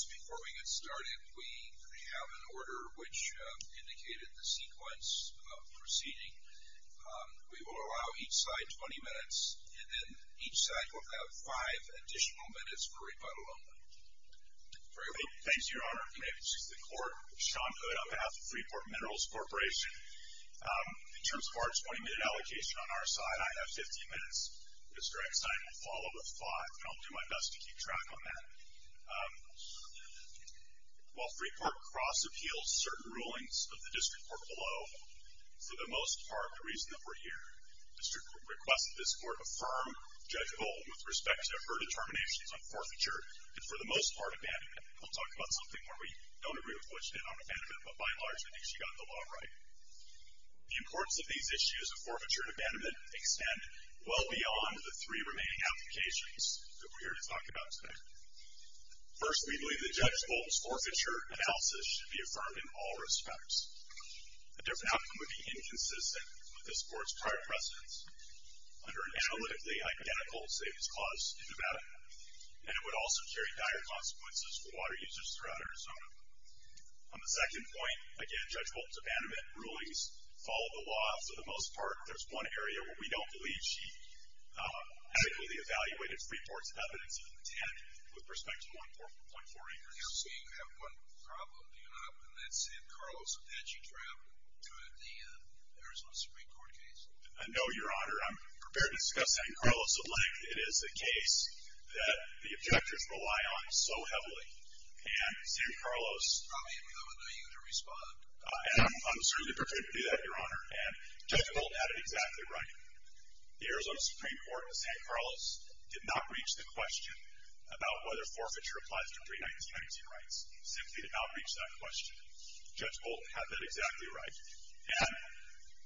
Before we get started, we have an order which indicated the sequence of proceeding. We will allow each side 20 minutes, and then each side will have 5 additional minutes for rebuttal only. Thank you, Your Honor. My name is Sean Hood on behalf of Freeport Minerals Corporation. In terms of our 20 minute allocation on our side, I have 15 minutes. Mr. Eckstein will follow with 5, and I'll do my best to keep track on that. While Freeport cross-appeals certain rulings of the District Court below, for the most part, the reason that we're here, the District Court requests that this Court affirm Judge Golden with respect to her determinations on forfeiture, and for the most part, abandonment. I'll talk about something where we don't agree with what she did on abandonment, but by and large, I think she got the law right. The importance of these issues of forfeiture and abandonment extend well beyond the three remaining applications that we're here to talk about today. First, we believe that Judge Golden's forfeiture analysis should be affirmed in all respects. A different outcome would be inconsistent with this Court's prior precedence, under an analytically identical savings clause to abandonment, and it would also carry dire consequences for water users throughout Arizona. On the second point, again, Judge Golden's abandonment rulings follow the law. For the most part, there's one area where we don't believe she adequately evaluated Freeport's evidence of intent with respect to 1.4 acres. So you have one problem, do you not? And that's San Carlos. Had she traveled to the Arizona Supreme Court case? No, Your Honor. I'm prepared to discuss San Carlos. It is a case that the objectors rely on so heavily. And San Carlos... I mean, I would know you to respond. I'm certainly prepared to do that, Your Honor. And Judge Golden had it exactly right. The Arizona Supreme Court in San Carlos did not reach the question about whether forfeiture applies to pre-1990 rights. Simply did not reach that question. Judge Golden had that exactly right. And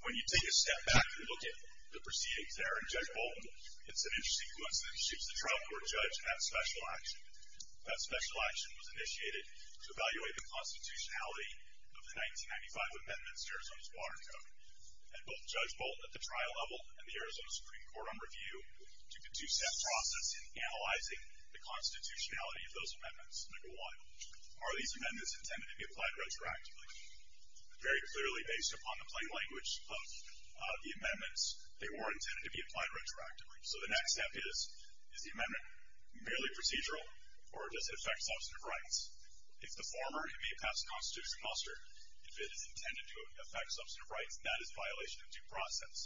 when you take a step back and look at the proceedings there, and Judge Golden hits an interesting coincidence, she's the trial court judge in that special action. That special action was initiated to evaluate the constitutionality of the 1995 amendments to Arizona's Water Code. And both Judge Bolton at the trial level and the Arizona Supreme Court on review did the two-step process in analyzing the constitutionality of those amendments. Number one, are these amendments intended to be applied retroactively? Very clearly, based upon the plain language of the amendments, they were intended to be applied retroactively. So the next step is, is the amendment merely procedural, or does it affect substantive rights? If the former, it may pass the Constitution muster. If it is intended to affect substantive rights, that is a violation of due process.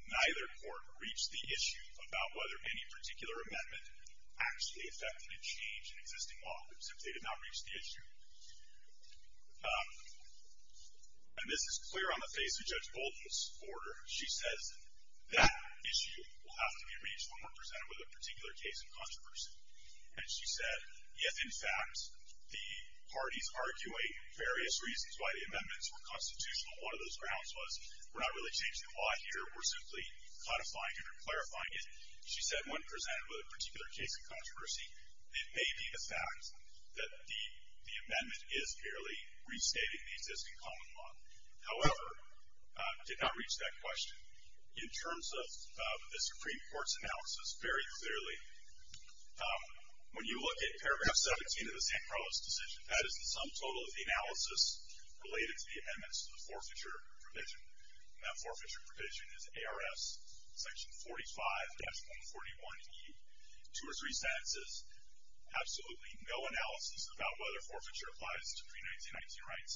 Neither court reached the issue about whether any particular amendment actually affected a change in existing law. Simply did not reach the issue. And this is clear on the face of Judge Golden's order. She says that issue will have to be reached when we're presented with a particular case in controversy. And she said, yes, in fact, the parties argue various reasons why the amendments were constitutional. One of those grounds was we're not really changing the law here, we're simply codifying it or clarifying it. She said when presented with a particular case in controversy, it may be the fact that the amendment is merely restating the existing common law. However, did not reach that question. In terms of the Supreme Court's analysis, very clearly, when you look at paragraph 17 of the San Carlos decision, that is the sum total of the analysis related to the amendments to the forfeiture provision. And that forfeiture provision is ARS section 45-141E. Two or three sentences, absolutely no analysis about whether forfeiture applies to pre-1919 rights,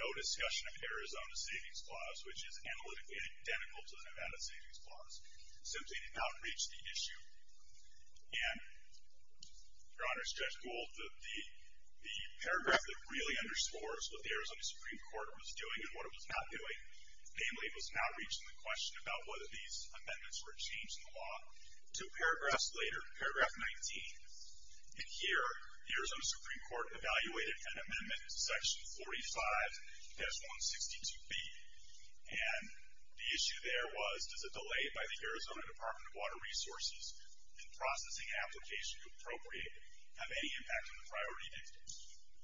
no discussion of Arizona Savings Clause, which is analytically identical to the Nevada Savings Clause. Simply did not reach the issue. And, Your Honor, Judge Gold, the paragraph that really underscores what the Arizona Supreme Court was doing and what it was not doing, namely, was not reaching the question about whether these amendments were changing the law. Two paragraphs later, paragraph 19, and here, the Arizona Supreme Court evaluated an amendment, section 45-162B, and the issue there was, does a delay by the Arizona Department of Water Resources in processing application to appropriate have any impact on the priority date?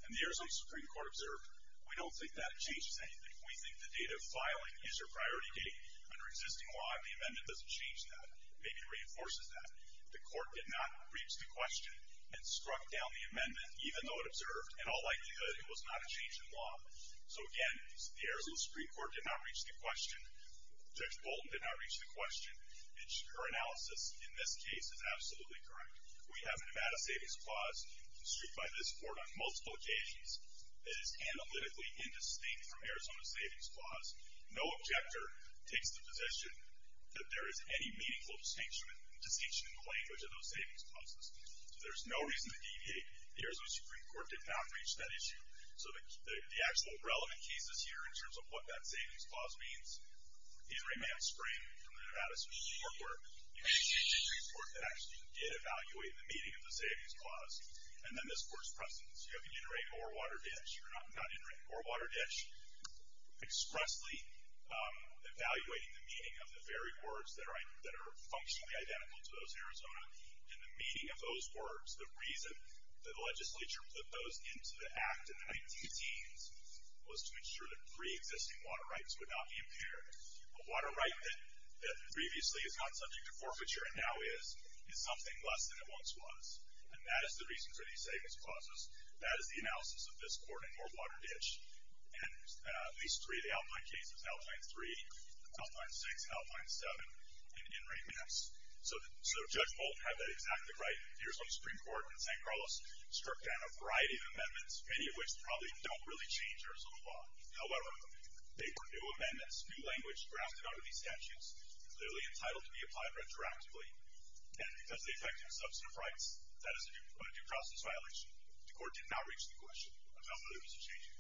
And the Arizona Supreme Court observed, we don't think that changes anything. We think the date of filing is your priority date. Under existing law, the amendment doesn't change that. Maybe it reinforces that. The court did not reach the question and struck down the amendment, even though it observed, in all likelihood, it was not a change in law. So, again, the Arizona Supreme Court did not reach the question. Judge Bolton did not reach the question. Her analysis in this case is absolutely correct. We have a Nevada Savings Clause issued by this court on multiple occasions that is analytically indistinct from Arizona Savings Clause. No objector takes the position that there is any meaningful distinction in the language of those savings clauses. So there's no reason to deviate. The Arizona Supreme Court did not reach that issue. So the actual relevant cases here, in terms of what that Savings Clause means, either a man sprang from the Nevada Supreme Court, or it was the Arizona Supreme Court that actually did evaluate the meaning of the Savings Clause. And then this court's precedence. You have an iterated overwater ditch. You're not iterating an overwater ditch. Expressly evaluating the meaning of the very words that are functionally identical to those in Arizona, and the meaning of those words, the reason that the legislature put those into the Act in the 19-teens, was to ensure that pre-existing water rights would not be impaired. A water right that previously is not subject to forfeiture and now is, is something less than it once was. And that is the reason for these savings clauses. That is the analysis of this court in overwater ditch. And these three, the Alpine cases, Alpine 3, Alpine 6, and Alpine 7, and in remands. So Judge Bolton had that exactly right. The Arizona Supreme Court in San Carlos struck down a variety of amendments, many of which probably don't really change Arizona law. However, they were new amendments, new language, drafted out of these statutes, clearly entitled to be applied retroactively. And because they affected substantive rights, that is a due process violation. The court did not reach the question of how many of these are changing.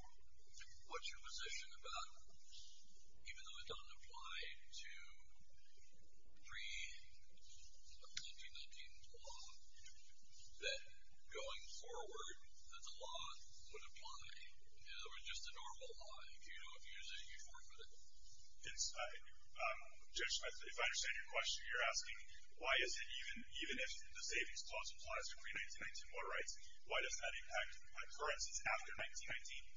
What's your position about, even though it doesn't apply to pre-1919 law, that going forward, that the law would apply? In other words, just the normal law. If you don't use it, you forfeit it. Judge, if I understand your question, you're asking, why is it even if the savings clause applies to pre-1919 water rights, why does that impact, for instance, after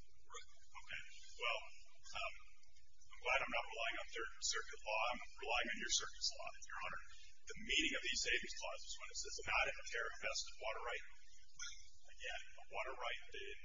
1919? Right. Okay. Well, I'm glad I'm not relying on Third Circuit law. I'm relying on your circuit's law, Your Honor. The meaning of the savings clause is when it says, not in the care of vested water right. Again, a water right in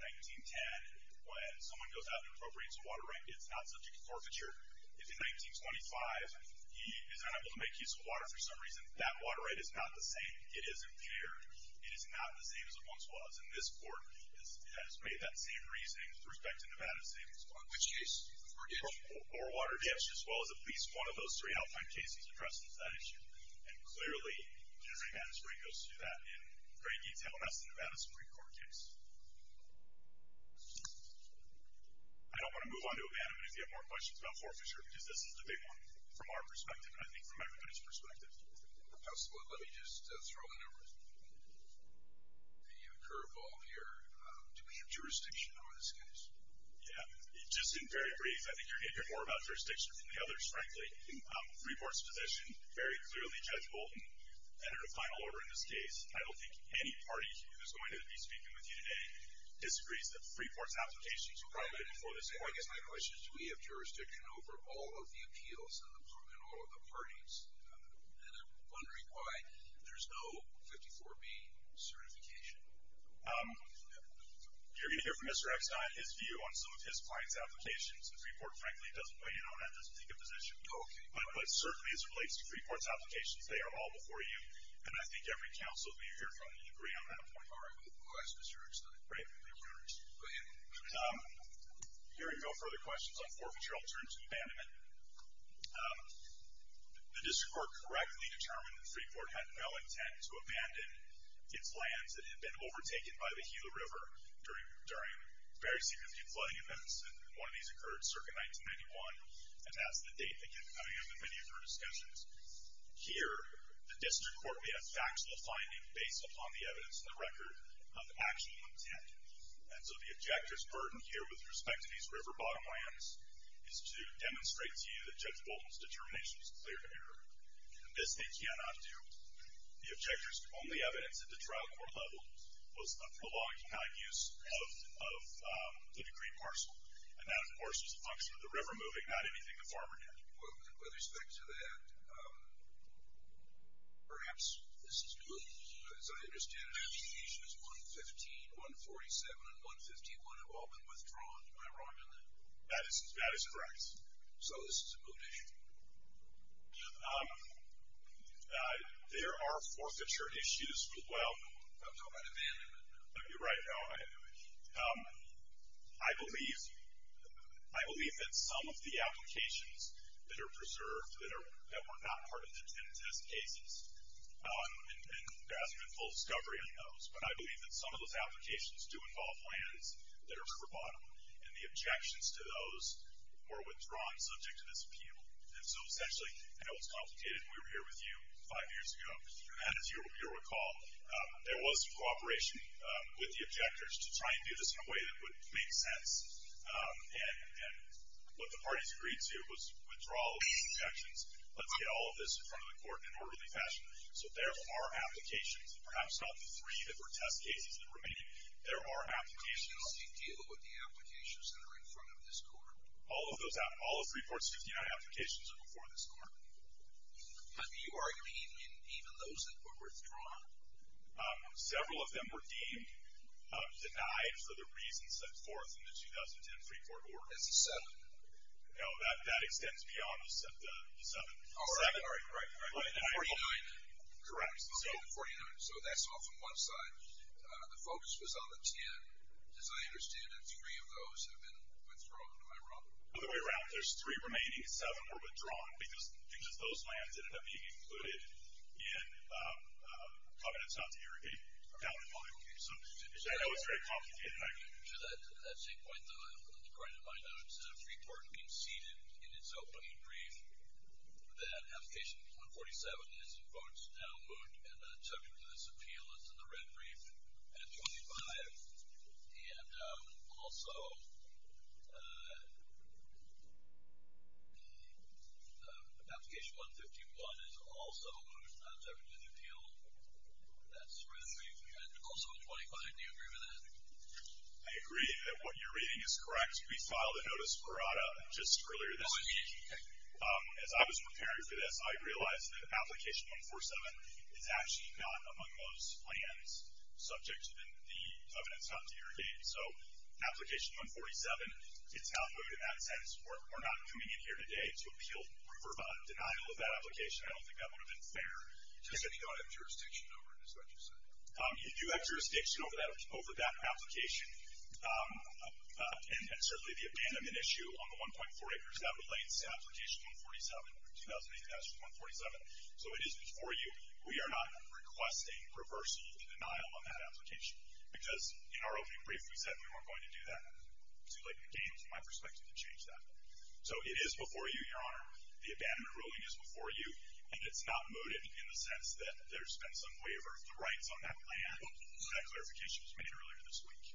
1910, when someone goes out and appropriates a water right, it's not subject to forfeiture. If in 1925, he is unable to make use of water for some reason, that water right is not the same. It is impaired. It is not the same as it once was. And this court has made that same reasoning with respect to Nevada's savings clause. Which case? Or water ditch? Or water ditch, as well as at least one of those three Alpine cases addressed that issue. And clearly, the Nevada Supreme Court goes through that in great detail, and that's the Nevada Supreme Court case. I don't want to move on to O'Bannon, but if you have more questions about forfeiture, because this is the big one from our perspective, and I think from everybody's perspective. Councilman, let me just throw in a curveball here. Do we have jurisdiction over this case? Yeah. Just in very brief, I think you're going to hear more about jurisdiction than the others, frankly. Freeport's position, very clearly, Judge Bolton, entered a final order in this case. I don't think any party who is going to be speaking with you today disagrees that Freeport's application is private for this case. Well, I guess my question is, do we have jurisdiction over all of the appeals in all of the parties? And I'm wondering why there's no 54B certification. You're going to hear from Mr. Eckstein, his view on some of his client's applications. And Freeport, frankly, doesn't weigh in on that, doesn't take a position. Oh, okay. But certainly, as it relates to Freeport's applications, they are all before you, and I think every council that we hear from will agree on that point. All right. We'll ask Mr. Eckstein. Great. Go ahead. Hearing no further questions on forfeiture, I'll turn to abandonment. The district court correctly determined that Freeport had no intent to abandon its lands that had been overtaken by the Gila River during very significant flooding events. And one of these occurred circa 1991, and that's the date that kept coming up in many of our discussions. Here, the district court made a factual finding based upon the evidence and the record of actual intent. And so the objector's burden here with respect to these river bottom lands is to demonstrate to you that Judge Bolton's determination is clear here. And this they cannot do. The objector's only evidence at the trial court level was a prologue to not use of the decree parcel. And that, of course, is a function of the river moving, not anything the farmer did. Well, with respect to that, perhaps this is true. As I understand it, applications 115, 147, and 151 have all been withdrawn. Am I wrong on that? That is correct. So this is a moot issue. There are forfeiture issues as well. I'm talking about abandonment. You're right. No, I believe that some of the applications that are preserved that were not part of the 10 test cases and there hasn't been full discovery on those. But I believe that some of those applications do involve lands that are river bottom. And the objections to those were withdrawn subject to this appeal. And so essentially, I know it's complicated. We were here with you five years ago. And as you'll recall, there was cooperation with the objectors to try and do this in a way that would make sense. And what the parties agreed to was withdrawal of these objections. Let's get all of this in front of the court in an orderly fashion. So there are applications. Perhaps not the three that were test cases that remain. There are applications. How do you deal with the applications that are in front of this court? All of those, all of 3.59 applications are before this court. Have you argued even those that were withdrawn? Several of them were deemed denied for the reasons set forth in the 2010 free court order. That's a seven. No, that extends beyond the seven. Oh, right, right, right. 49. Correct. Okay, the 49. So that's off on one side. The focus was on the 10. As I understand it, three of those have been withdrawn. Am I wrong? No, the way around. There's three remaining. Seven were withdrawn because those lands ended up being included in Covenants Not to Irrigate, down to five. Okay. So I know it's very complicated. To that same point, the right of my notes, the free court conceded in its opening brief that application 147 is in votes now moved and not subject to this appeal. It's in the red brief at 25. And also, application 151 is also moved and not subject to this appeal. That's the red brief. And also at 25, do you agree with that? I agree that what you're reading is correct. We filed a notice of errata just earlier this week. As I was preparing for this, I realized that application 147 is actually not among those lands subject to the Covenants Not to Irrigate. So application 147, it's outmoded in that sense. We're not coming in here today to appeal for denial of that application. I don't think that would have been fair. You said you don't have jurisdiction over it, is that what you said? You do have jurisdiction over that application. And certainly the abandonment issue on the 1.4 acres, that relates to application 147, 2008-147. So it is before you. We are not requesting reversal or denial on that application. Because in our opening brief, we said we weren't going to do that. It's too late to change that. So it is before you, Your Honor. The abandonment ruling is before you. And it's not mooted in the sense that there's been some waiver of the rights on that land. That clarification was made earlier this week.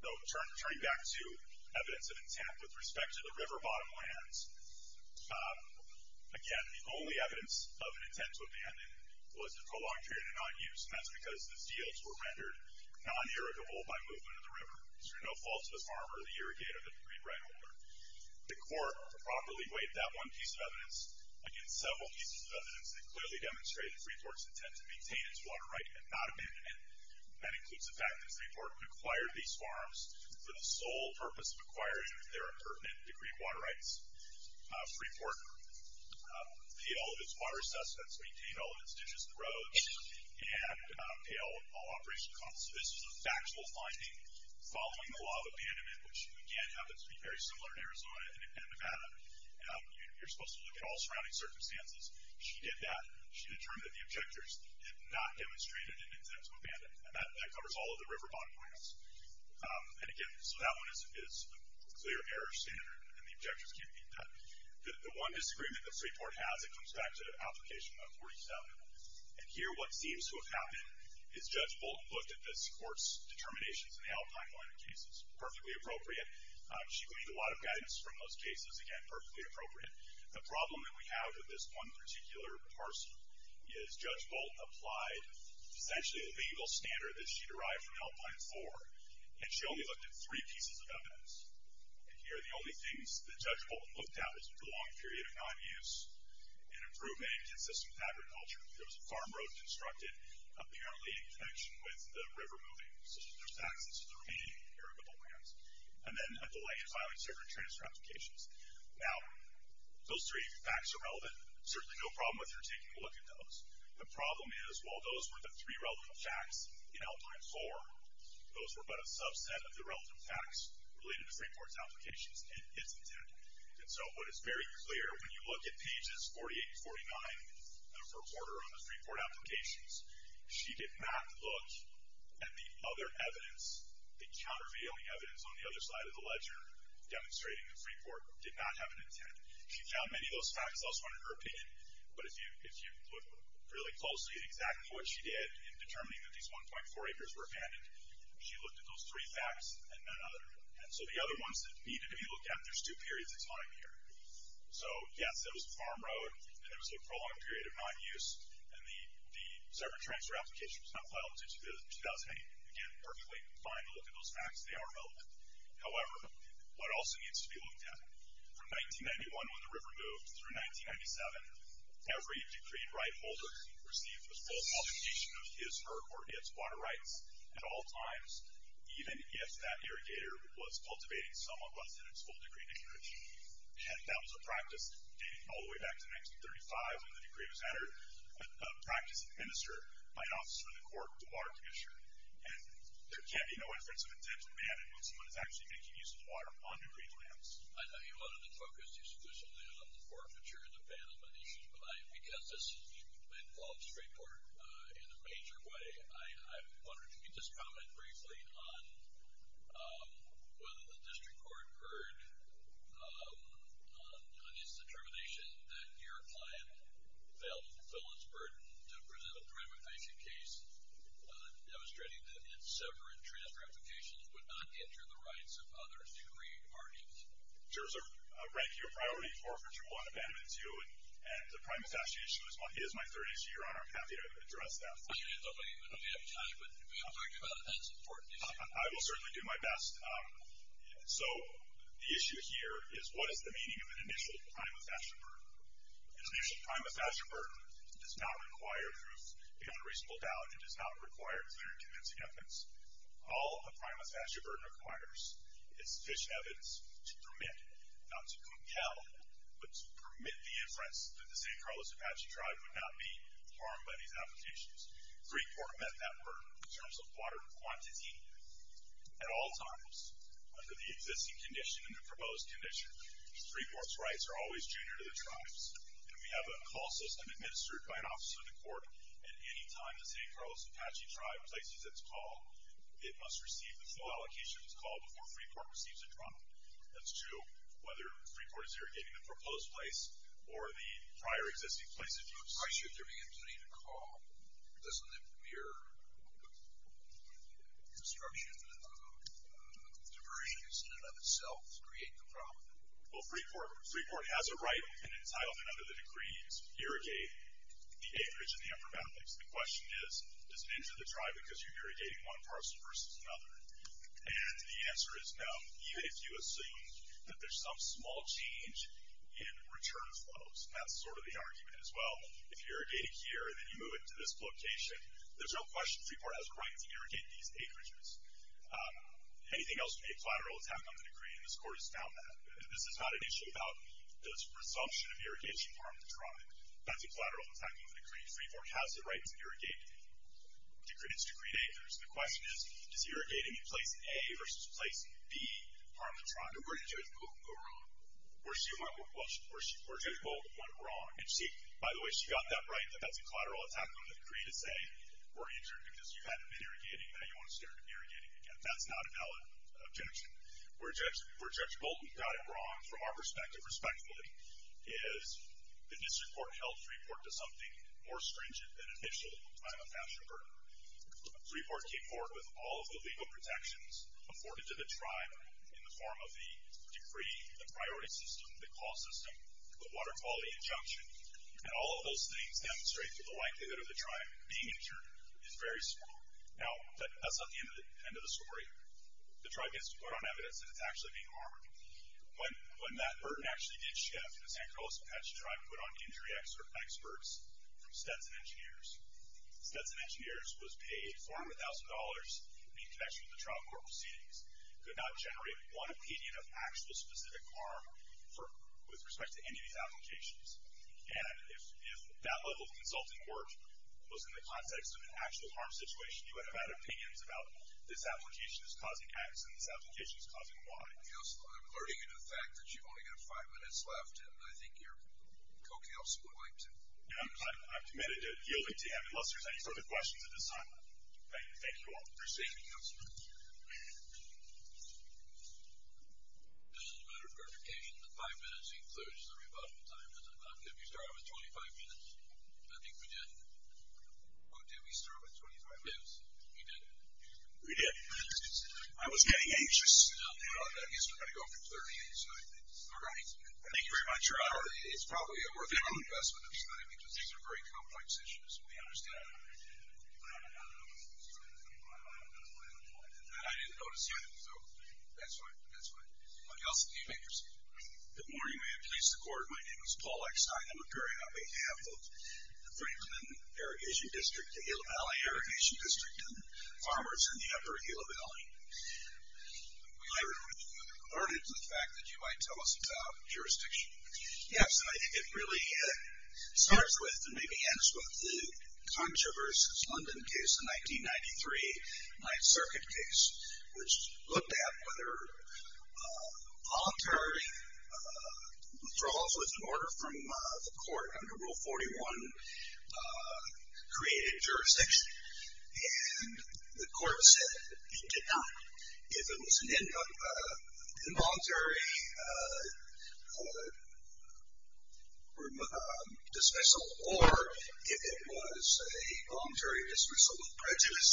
So turning back to evidence of intent with respect to the river bottom lands, again, the only evidence of an intent to abandon was the prolonged period of non-use, and that's because the fields were rendered non-irrigable by movement of the river. There's no fault to the farmer, the irrigator, the breed right holder. The court properly weighed that one piece of evidence against several pieces of evidence that clearly demonstrated Freeport's intent to maintain its water right and not abandon it. That includes the fact that Freeport acquired these farms for the sole purpose of acquiring their pertinent degree of water rights. Freeport paid all of its water assessments, maintained all of its ditches and roads, and paid all operation costs. So this was a factual finding following the law of abandonment, which, again, happens to be very similar in Arizona and Nevada. You're supposed to look at all surrounding circumstances. She did that. She determined that the objectors did not demonstrate an intent to abandon, and that covers all of the river bottom lands. And, again, so that one is a clear error standard, and the objectors can't beat that. The one disagreement that Freeport has, it comes back to Application 147, and here what seems to have happened is Judge Bolton looked at this court's She gleaned a lot of guidance from those cases. Again, perfectly appropriate. The problem that we have with this one particular parcel is Judge Bolton applied essentially a legal standard that she derived from Alpine 4, and she only looked at three pieces of evidence. And here the only things that Judge Bolton looked at was a prolonged period of non-use and improvement inconsistent with agriculture. There was a farm road constructed, apparently in connection with the river moving. So, there's facts as to the remaining area of the land. And then a delay in filing certain transfer applications. Now, those three facts are relevant. Certainly no problem with her taking a look at those. The problem is, while those were the three relevant facts in Alpine 4, those were but a subset of the relevant facts related to Freeport's applications and its intent. And so what is very clear when you look at pages 48 and 49 of her order on the Freeport applications, she did not look at the other evidence, the countervailing evidence on the other side of the ledger demonstrating that Freeport did not have an intent. She found many of those facts elsewhere in her opinion, but if you look really closely at exactly what she did in determining that these 1.4 acres were abandoned, she looked at those three facts and none other. And so the other ones that needed to be looked at, there's two periods of time here. So, yes, there was a farm road, and there was a prolonged period of non-use, and the separate transfer application was not filed until 2008. Again, perfectly fine to look at those facts. They are relevant. However, what also needs to be looked at? From 1991, when the river moved, through 1997, every decreed right holder received a full publication of his or her water rights at all times, even if that irrigator was cultivating some of what's in its full decree dictionary. And that was a practice dating all the way back to 1935 when the decree was practiced and administered by an officer of the court, the water commissioner. And there can't be no inference of intent of abandonment when someone is actually making use of the water on decreed lands. I know you wanted to focus exclusively on the forfeiture and the banishment issues, but I, because this has been called straightforward in a major way, I wondered if you could just comment briefly on whether the district court heard on its determination that your client failed to fulfill its burden to present a prime evasion case demonstrating that its separate transfer applications would not injure the rights of other decreed parties. Sure, sir. Thank you. A priority forfeiture one, abandonment two, and the prime evasion issue is my 30th year, Your Honor. I'm happy to address that. I know we have time, but we have talked about it. That's an important issue. I will certainly do my best. So the issue here is what is the meaning of an initial prime evasion burden? An initial prime evasion burden does not require proof beyond reasonable doubt. It does not require clear and convincing evidence. All a prime evasion burden requires is sufficient evidence to permit, not to compel, but to permit the inference that the San Carlos Apache tribe would not be harmed by these applications. Freeport met that burden in terms of water quantity at all times under the existing condition and the proposed condition. Freeport's rights are always junior to the tribe's, and we have a call system administered by an officer of the court at any time the San Carlos Apache tribe places its call. It must receive the full allocation of its call before Freeport receives a drum. That's two, whether Freeport is irrigating the proposed place or the prior existing place of use. Why should there be a need to call? Doesn't it mirror the construction of diversions in and of itself create the problem? Well, Freeport has a right and an entitlement under the decree to irrigate the acreage and the informatics. The question is, does it injure the tribe because you're irrigating one parcel versus another? And the answer is no, even if you assume that there's some small change in return flows. That's sort of the argument as well. If you're irrigating here and then you move it to this location, there's no question Freeport has a right to irrigate these acreages. Anything else would be a collateral attack on the decree, and this court has found that. This is not an issue about the presumption of irrigation harm the tribe. That's a collateral attack on the decree. Freeport has a right to irrigate its decreed acres. The question is, does irrigating a place A versus place B harm the tribe? No, where did Judge Bolton go wrong? Where Judge Bolton went wrong. And see, by the way, she got that right, that that's a collateral attack on the decree to say, were you injured because you hadn't been irrigating, now you want to start irrigating again. That's not a valid objection. Where Judge Bolton got it wrong from our perspective, respectfully, is the district court held Freeport to something more stringent than initial time of pasture burden. Freeport came forward with all of the legal protections afforded to the decree, the priority system, the call system, the water quality injunction, and all of those things demonstrate that the likelihood of the tribe being injured is very small. Now, that's not the end of the story. The tribe gets to put on evidence that it's actually being harmed. When that burden actually did shift, the San Carlos Apache tribe put on injury experts from Stetson Engineers. Stetson Engineers was paid $400,000 in connection with the trial court proceedings. Could not generate one opinion of actual specific harm with respect to any of these applications. And if that level of consulting work was in the context of an actual harm situation, you would have had opinions about this application is causing X and this application is causing Y. I'm alluding to the fact that you've only got five minutes left, and I think your co-counsel would like to. I'm committed to yielding to him, unless there's any further questions at this time. Thank you all. Thank you for saving us. As a matter of clarification, the five minutes includes the rebuttal time, does it not? Did we start with 25 minutes? I think we did. Did we start with 25 minutes? Yes, we did. We did. I was getting anxious. He's been ready to go for 30 minutes. All right. Thank you very much, Your Honor. It's probably a worthwhile investment of study, because these are very complex issues. We understand. I didn't notice you. That's fine. That's fine. Anybody else? Good morning. May it please the Court. My name is Paul Eckstein. I'm a jury on behalf of the Franklin Irrigation District, the Gila Valley Irrigation District, and the farmers in the upper Gila Valley. I'm alerted to the fact that you might tell us about jurisdiction. Yes. I think it really starts with and maybe ends with the Congress versus London case, the 1993 Ninth Circuit case, which looked at whether voluntary withdrawals was an order from the Court under Rule 41 created jurisdiction. And the Court said it did not. If it was an involuntary dismissal, or if it was a voluntary dismissal with prejudice,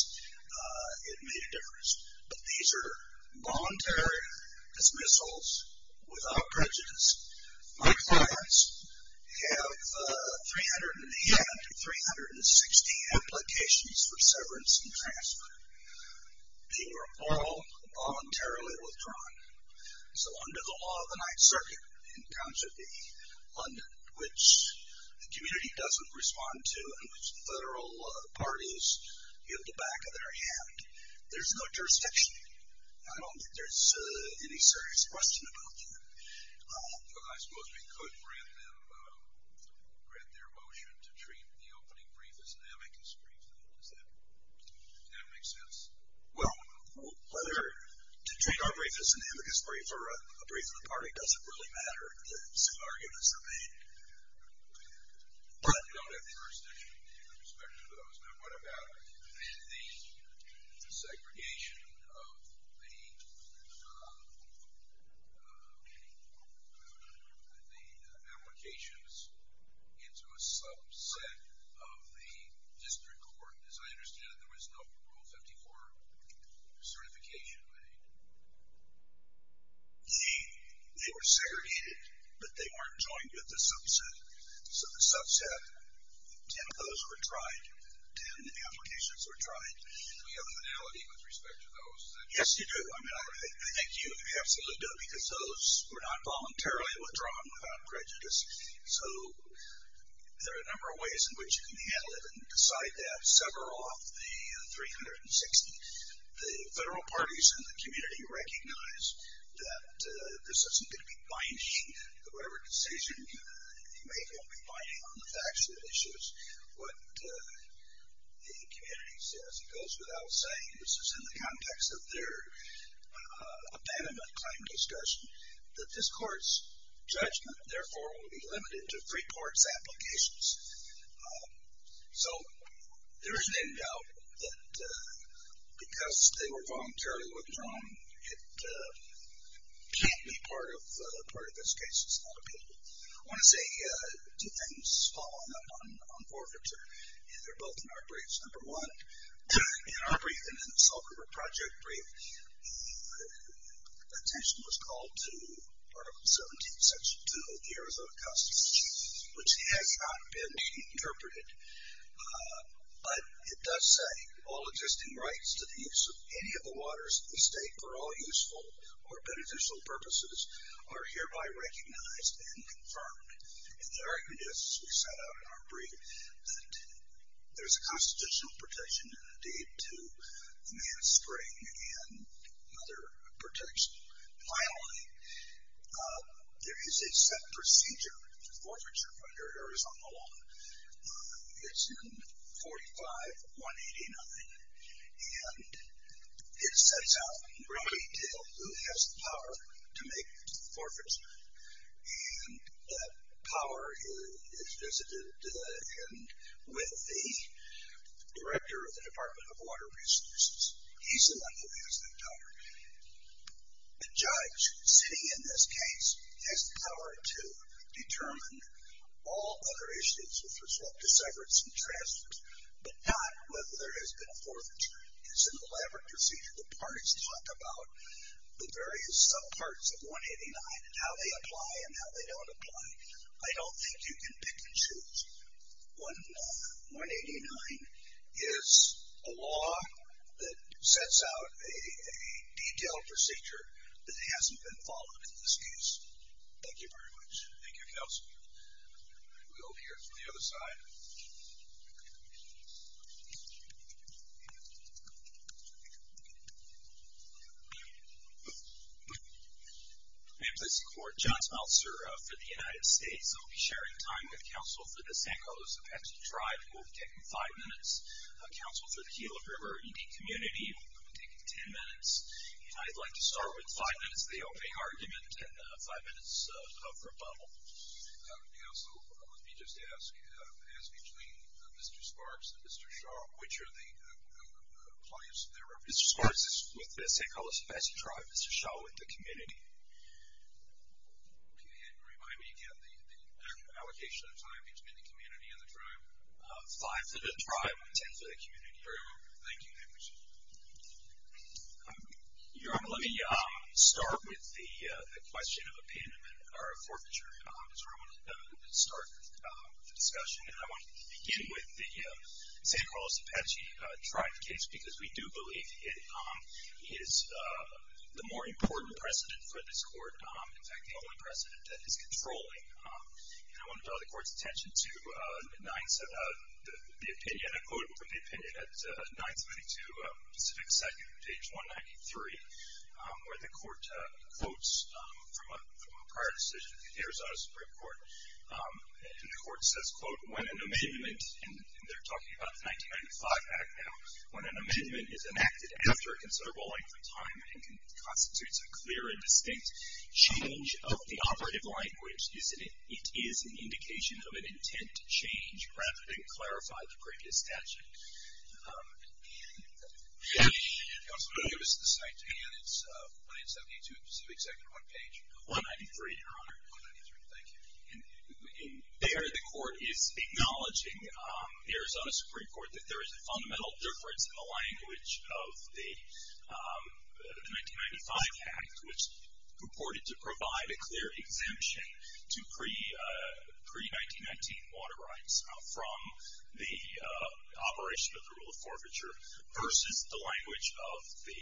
it made a difference. But these are voluntary dismissals without prejudice. My clients have 300 and a half to 360 applications for severance and transfer. They were all voluntarily withdrawn. So under the law of the Ninth Circuit, in terms of the London, which the community doesn't respond to, and which the federal parties give the back of their hand, there's no jurisdiction. I don't think there's any serious question about that. I suppose we could grant them, grant their motion to treat the opening brief as an amicus brief. Does that make sense? Well, whether to treat our brief as an amicus brief or a brief of the party doesn't really matter. The scenarios are made. But we don't have jurisdiction in respect to those. What about the segregation of the applications into a subset of the district court? As I understand it, there was no Rule 54 certification made. They were segregated, but they weren't joined with the subset. So the subset, 10 of those were tried, 10 applications were tried. Do we have a modality with respect to those? Yes, you do. I think you absolutely do, because those were not voluntarily withdrawn without prejudice. So there are a number of ways in which you can handle it. And beside that, sever off the 360. The federal parties in the community recognize that this isn't going to be binding to whatever decision you make. It will be binding on the facts of the issues, what the community says. It goes without saying, this is in the context of their abandonment claim discussion, that this court's judgment, therefore, will be limited to three courts' applications. So there is an end out that because they were voluntarily withdrawn, it can't be part of this case. It's not appealable. I want to say two things following up on forfeiture, and they're both in our briefs. Number one, in our brief and in the Salt River Project brief, attention was called to Article 17, Section 2 of the Arizona Customs Act, which has not been interpreted, but it does say, all existing rights to the use of any of the waters of the state for all useful or beneficial purposes are hereby recognized and confirmed. And the argument is, as we set out in our brief, that there's a constitutional protection and a deed to the man's spring and other protections. Finally, there is a set procedure for forfeiture under Arizona law. It's in 45-189, and it sets out in great detail who has the power to make the forfeiture. And that power is visited with the director of the Department of Water Resources. He's the one who has that power. The judge sitting in this case has the power to determine all other issues with respect to severance and transfers, but not whether there has been forfeiture. It's an elaborate procedure. The parties talk about the various parts of 189 and how they apply and how they don't apply. I don't think you can pick and choose. 189 is a law that sets out a detailed procedure that hasn't been followed in this case. Thank you very much. Thank you, counsel. We'll hear from the other side. My name is John Smeltzer for the United States. I'll be sharing time with counsel for the San Carlos Apache tribe. We'll be taking five minutes. Counsel for the Gila River Indian community, we'll be taking ten minutes. And I'd like to start with five minutes of the opening argument and five minutes of rebuttal. Counsel, let me just ask, as between Mr. Sparks and Mr. Shaw, which are the clients of their representatives? Mr. Sparks is with the San Carlos Apache tribe. Mr. Shaw with the community. Can you remind me again the allocation of time between the community and the tribe? Five for the tribe and ten for the community. Very well. Thank you. Thank you, sir. Your Honor, let me start with the question of opinion or forfeiture. So I want to start the discussion. And I want to begin with the San Carlos Apache tribe case because we do believe it is the more important precedent for this court, in fact, the only precedent that is controlling. And I want to draw the court's attention to the opinion, and I quote from the opinion at 932 Pacific 2nd, page 193, where the court quotes from a prior decision of the Arizona Supreme Court. And the court says, quote, when an amendment, and they're talking about the 1995 act now, when an amendment is enacted after a considerable length of time and constitutes a clear and distinct change of the operative language, it is an indication of an intent to change rather than clarify the previous statute. If you could also give us the site again. It's 972 Pacific 2nd on page 193, Your Honor. 193. Thank you. And there the court is acknowledging the Arizona Supreme Court that there is a fundamental difference in the language of the 1995 act, which purported to provide a clear exemption to pre-1919 water rights from the operation of the rule of forfeiture, versus the language of the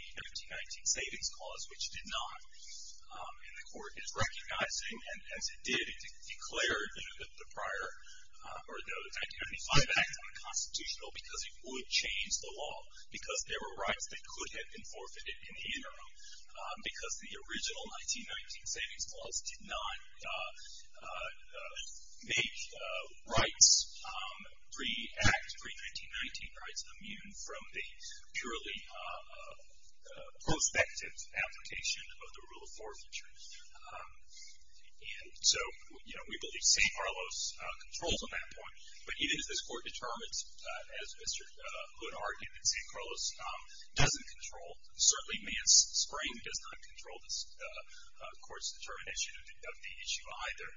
1919 Savings Clause, which did not. And the court is recognizing, and as it did, it declared the prior or the 1995 act unconstitutional because it would change the law because there were rights that could have been forfeited in the interim because the original 1919 Savings Clause did not make rights pre-act, pre-1919 rights immune from the purely prospective application of the rule of forfeiture. And so, you know, we believe St. Carlos controls on that point, but either this court determines, as Mr. Hood argued, that St. Carlos doesn't control, certainly Mance-Spring does not control this court's determination of the issue either.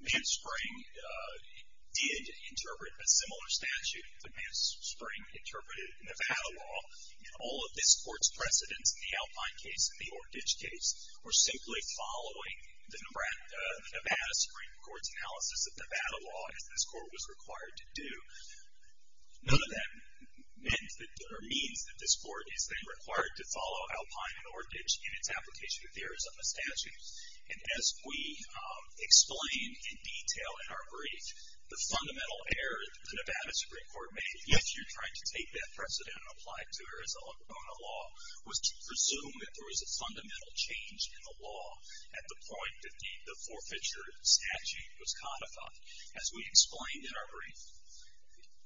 Mance-Spring did interpret a similar statute, but Mance-Spring interpreted Nevada law, and all of this court's precedents in the Alpine case and the Orchidge case were simply following the Nevada Supreme Court's analysis of Nevada law, as this court was required to do. None of that means that this court is then required to follow Alpine and Orchidge in its application of the Arizona statute, and as we explained in detail in our brief, the fundamental error the Nevada Supreme Court made, if you're trying to take that precedent and apply it to Arizona law, was to presume that there was a fundamental change in the law at the point that the forfeiture statute was codified. As we explained in our brief,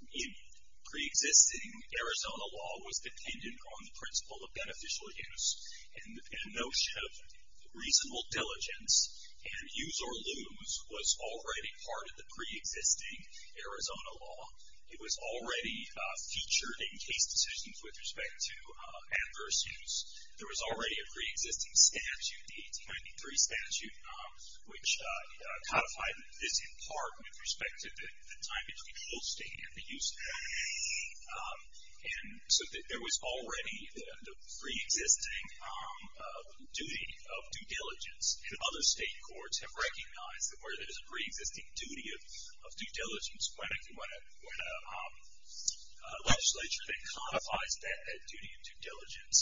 preexisting Arizona law was dependent on the principle of beneficial use and a notion of reasonable diligence, and use or lose was already part of the preexisting Arizona law. It was already featured in case decisions with respect to adverse use. There was already a preexisting statute, the 1893 statute, which codified this in part with respect to the time between full state and the use of that. And so there was already the preexisting duty of due diligence, and other state courts have recognized that where there is a preexisting duty of due diligence, when a legislature that codifies that duty of due diligence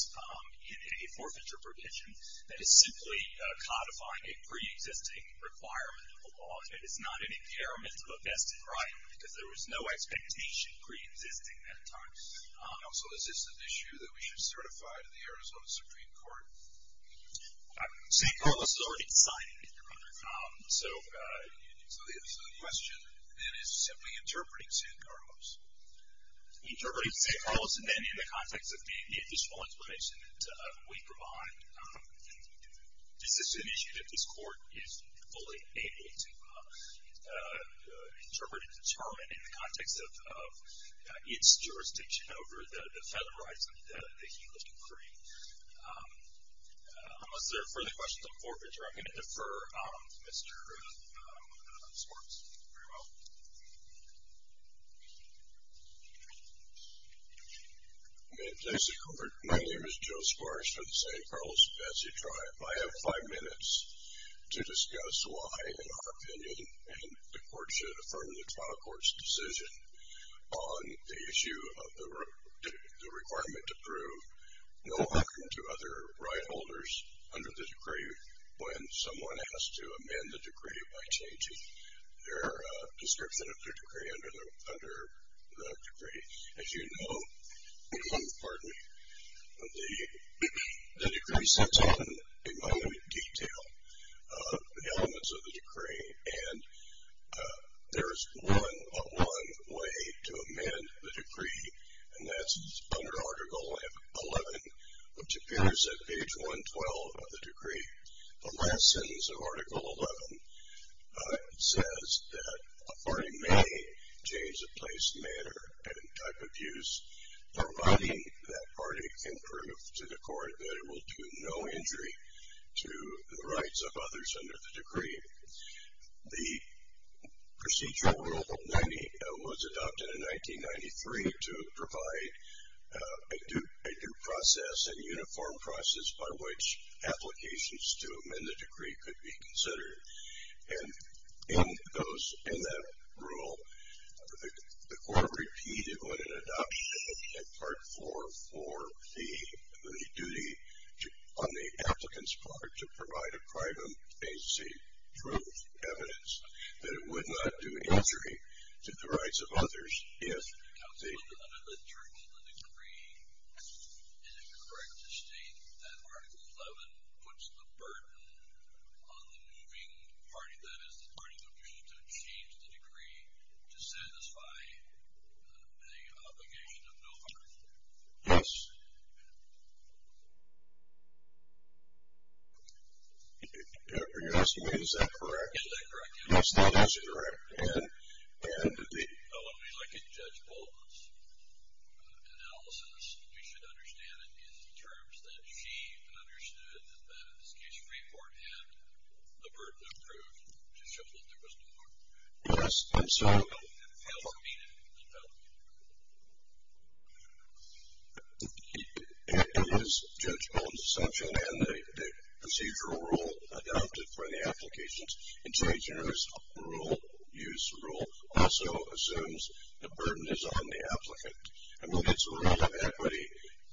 in a forfeiture provision, that is simply codifying a preexisting requirement of the law. It is not an impairment of a vested right, because there was no expectation preexisting at the time. And also, is this an issue that we should certify to the Arizona Supreme Court? San Carlos is already decided. Interpreting San Carlos, and then in the context of the additional explanation that we provide, is this an issue that this court is fully able to interpret and determine in the context of its jurisdiction over the federal rights that he was decreeing? Unless there are further questions on forfeiture, I'm going to defer Mr. Swartz very well. My name is Joe Swartz from the San Carlos Betsy Tribe. I have five minutes to discuss why, in our opinion, and the court should affirm the trial court's decision on the issue of the requirement to prove no harm to other right holders under the decree when someone has to amend the decree by changing their description of their decree under the decree. As you know, pardon me, the decree sets out in minute detail the elements of the decree, and there is one way to amend the decree, and that's under Article 11, which appears at page 112 of the decree. The last sentence of Article 11 says that a party may change the place of the decree under the decree, and there is a second type of use providing that party can prove to the court that it will do no injury to the rights of others under the decree. The procedural rule was adopted in 1993 to provide a due process, a uniform process by which applications to amend the decree could be considered. And in that rule, the court repeated on an adoption at Part 4 for the duty on the applicant's part to provide a private agency proof, evidence that it would not do injury to the rights of others if the ---- So under the terms of the decree, is it correct to state that Article 11 puts the burden on the moving party, that is the party that wishes to change the decree to satisfy the obligation of no other? Yes. Are you asking me is that correct? Is that correct? Yes, that is correct. So when we look at Judge Bolden's analysis, we should understand it in terms that she understood that, in this case, Freeport had the burden of proof to show that there was no harm. Yes. And so ---- And failed to meet it, and failed to meet the rule. That was Judge Bolden's assumption, and the procedural rule adopted for the applications. And change in this rule, use rule, also assumes the burden is on the applicant, and will get some amount of equity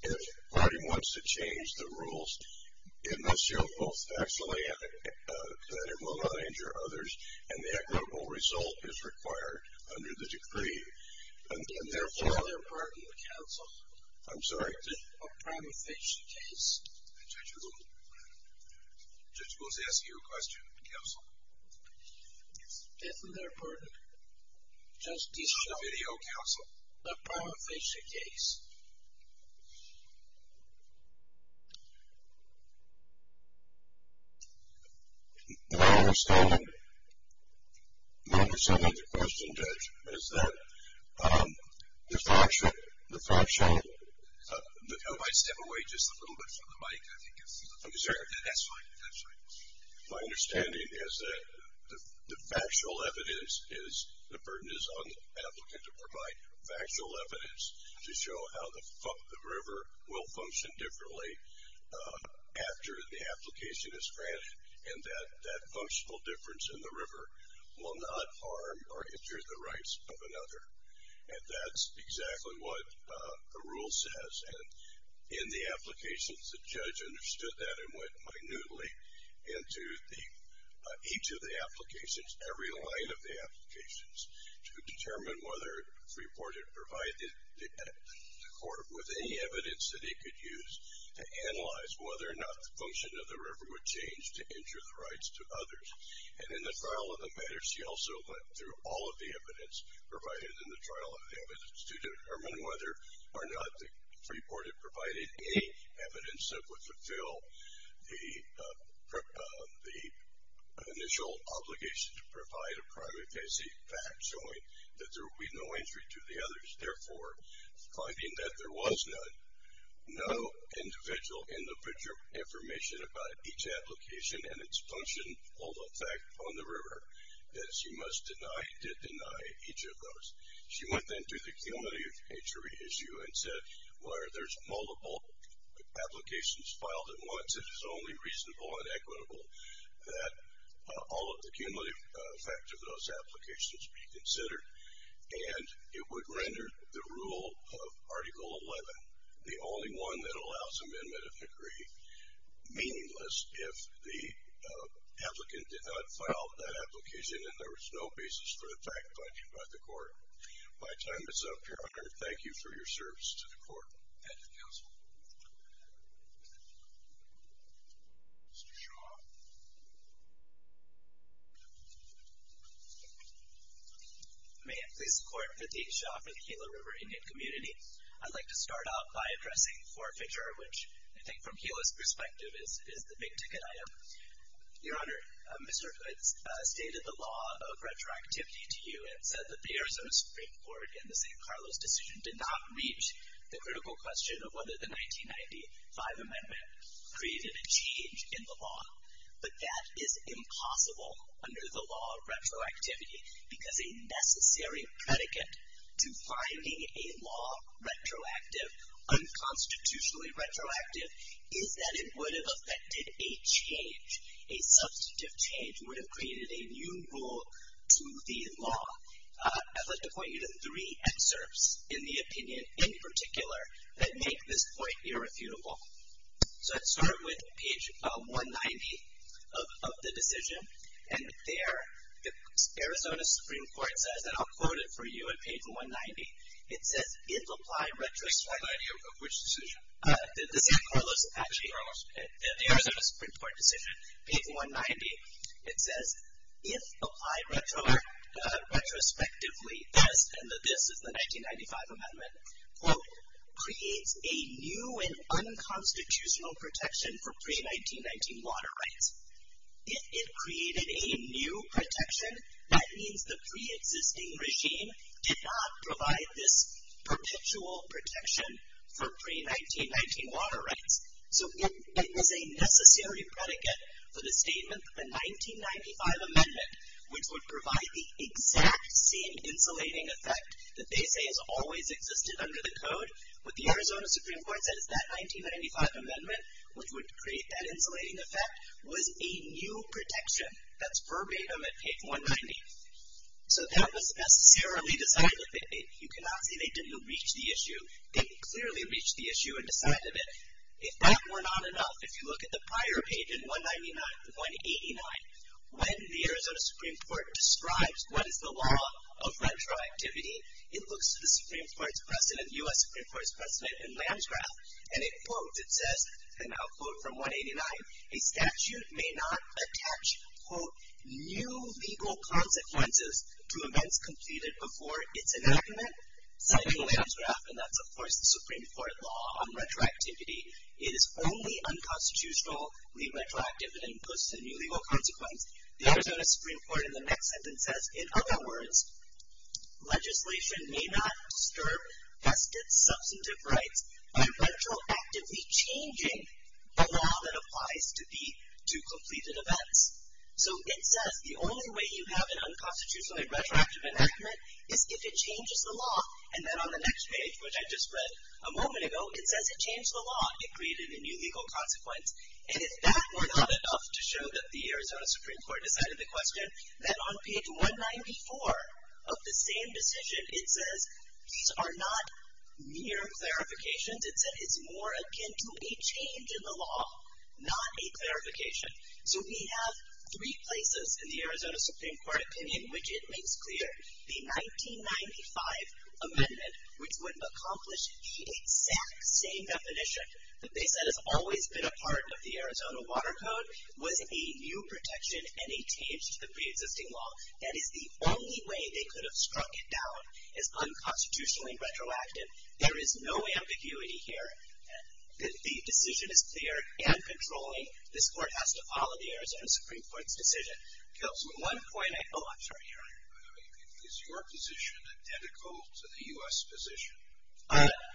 if the party wants to change the rules. It must show both actually that it will not injure others, and the equitable result is required under the decree. And therefore ---- Pardon the counsel. I'm sorry. I'm trying to fix the case. Judge Bolden. Judge Bolden is asking you a question, counsel. Yes. Isn't there a burden? Justice ---- On the video, counsel. I'm trying to fix the case. My understanding, my understanding of your question, Judge, is that the fact show, the fact show ---- If I step away just a little bit from the mic, I think that's fine. My understanding is that the factual evidence is the burden is on the applicant to provide factual evidence to show how the river will function differently after the application is granted, and that that functional difference in the river will not harm or injure the rights of another. And that's exactly what the rule says. And in the applications, the judge understood that and went minutely into each of the applications, every line of the applications, to determine whether it was reported provided the court with any evidence that he could use to analyze whether or not the function of the river would change to injure the rights to others. And in the trial of the matter, she also went through all of the evidence provided in the trial of the evidence to determine whether or not the report had provided any evidence that would fulfill the initial obligation to provide a primary facing fact showing that there would be no injury to the others. Therefore, finding that there was no individual individual information about each application and its functional effect on the river, that she must deny, did deny each of those. She went then through the cumulative injury issue and said where there's multiple applications filed at once, it is only reasonable and equitable that all of the cumulative effect of those applications be considered. And it would render the rule of Article 11 the only one that allows amendment of decree meaningless if the applicant did not file that application and there was no basis for effect by the court. My time is up, Your Honor. Thank you for your service to the court. Thank you, counsel. Mr. Shaw. May it please the court that the H. Shaw for the Kela River Indian Community. I'd like to start out by addressing forfeiture, which I think from Kela's perspective is the big ticket item. Your Honor, Mr. Hood's stated the law of retroactivity to you and said that the Arizona Supreme Court in the San Carlos decision did not reach the critical question of whether the 1995 amendment created a change in the law. But that is impossible under the law of retroactivity because a necessary predicate to finding a law retroactive, unconstitutionally retroactive, is that it would have affected a change, a substantive change would have created a new rule to the law. I'd like to point you to three excerpts in the opinion in particular that make this point irrefutable. So let's start with page 190 of the decision. And there the Arizona Supreme Court says, and I'll quote it for you on page 190, it says, I have no idea of which decision. The San Carlos, actually. The Arizona Supreme Court decision, page 190. It says, and this is the 1995 amendment, If it created a new protection, that means the preexisting regime did not provide this perpetual protection for pre-1919 water rights. So it was a necessary predicate for the statement that the 1995 amendment, which would provide the exact same insulating effect that they say has always existed under the code. What the Arizona Supreme Court said is that 1995 amendment, which would create that insulating effect, was a new protection. That's verbatim at page 190. So that was necessarily decided. You cannot say they didn't reach the issue. They clearly reached the issue and decided it. If that were not enough, if you look at the prior page in 199, 189, when the Arizona Supreme Court describes what is the law of retroactivity, it looks to the Supreme Court's president, U.S. Supreme Court's president in Lansgraf, and it quotes, it says, and I'll quote from 189, to events completed before its enactment, citing Lansgraf, and that's, of course, the Supreme Court law on retroactivity. It is only unconstitutionally retroactive and imposes a new legal consequence. The Arizona Supreme Court in the next sentence says, in other words, legislation may not disturb vested substantive rights by retroactively changing the law that applies to completed events. So it says the only way you have an unconstitutionally retroactive enactment is if it changes the law. And then on the next page, which I just read a moment ago, it says it changed the law. It created a new legal consequence. And if that were not enough to show that the Arizona Supreme Court decided the question, then on page 194 of the same decision, it says these are not mere clarifications. It said it's more akin to a change in the law, not a clarification. So we have three places in the Arizona Supreme Court opinion which it makes clear the 1995 amendment, which would accomplish the exact same definition that they said has always been a part of the Arizona Water Code, was a new protection and a change to the preexisting law. That is the only way they could have struck it down as unconstitutionally retroactive. There is no ambiguity here. The decision is clear and controlling. This Court has to follow the Arizona Supreme Court's decision. One point I... Oh, I'm sorry, Your Honor. Is your position identical to the U.S. position?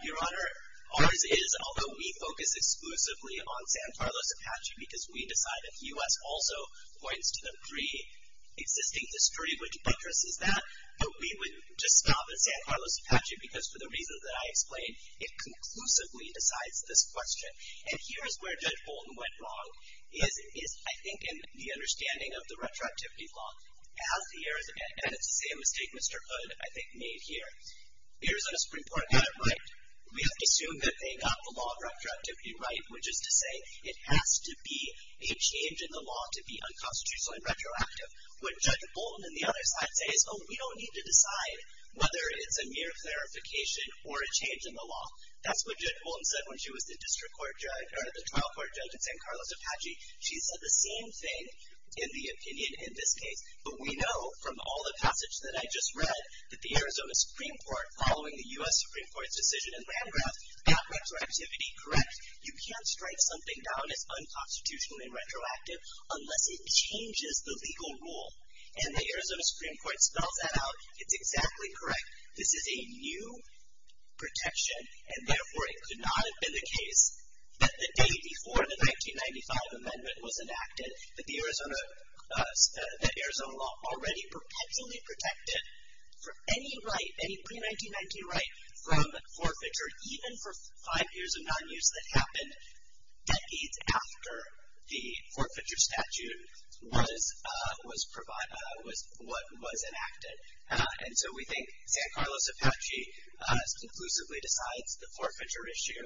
Your Honor, ours is, although we focus exclusively on San Carlos Apache because we decide that the U.S. also points to the preexisting history, which interests us that, but we would just stop at San Carlos Apache because for the reasons that I explained, it conclusively decides this question. And here is where Judge Bolton went wrong, is, I think, in the understanding of the retroactivity law. As the Arizona... And it's the same mistake Mr. Hood, I think, made here. The Arizona Supreme Court got it right. We have to assume that they got the law of retroactivity right, which is to say it has to be a change in the law to be unconstitutional and retroactive. What Judge Bolton, on the other side, says, oh, we don't need to decide whether it's a mere clarification or a change in the law. That's what Judge Bolton said when she was the district court judge, or the trial court judge in San Carlos Apache. She said the same thing in the opinion in this case. But we know from all the passage that I just read that the Arizona Supreme Court, following the U.S. Supreme Court's decision in Landgraf, got retroactivity correct. You can't strike something down as unconstitutional and retroactive unless it changes the legal rule. And the Arizona Supreme Court spells that out. It's exactly correct. This is a new protection, and therefore it could not have been the case that the day before the 1995 amendment was enacted that the Arizona law already perpetually protected for any right, any pre-1990 right from forfeiture, even for five years of non-use, that happened decades after the forfeiture statute was enacted. And so we think San Carlos Apache conclusively decides the forfeiture issue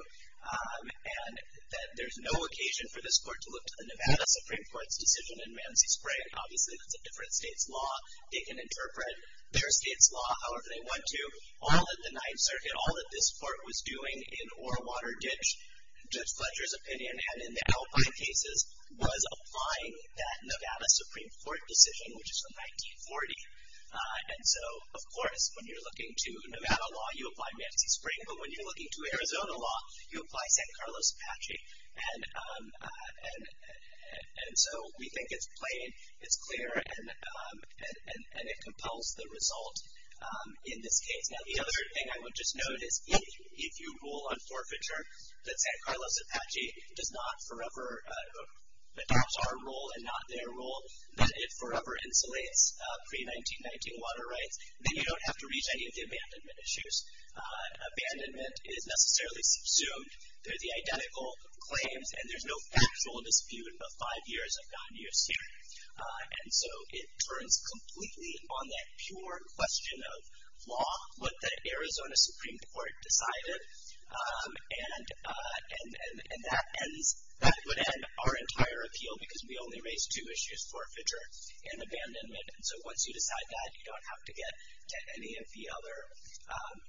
and that there's no occasion for this court to look to the Nevada Supreme Court's decision in Mansi Spring. Obviously, that's a different state's law. They can interpret their state's law however they want to. All that the Ninth Circuit, all that this court was doing in Orwater Ditch, Judge Fletcher's opinion, and in the Alpine cases, was applying that Nevada Supreme Court decision, which is from 1940. And so, of course, when you're looking to Nevada law, you apply Mansi Spring. But when you're looking to Arizona law, you apply San Carlos Apache. And so we think it's plain, it's clear, and it compels the result in this case. Now, the other thing I would just note is if you rule on forfeiture that San Carlos Apache does not forever adopt our rule and not their rule, that it forever insulates pre-1919 water rights, then you don't have to reach any of the abandonment issues. Abandonment is necessarily subsumed. They're the identical claims, and there's no factual dispute about five years of non-use here. And so it turns completely on that pure question of law, what the Arizona Supreme Court decided. And that would end our entire appeal because we only raised two issues, forfeiture and abandonment. So once you decide that, you don't have to get to any of the other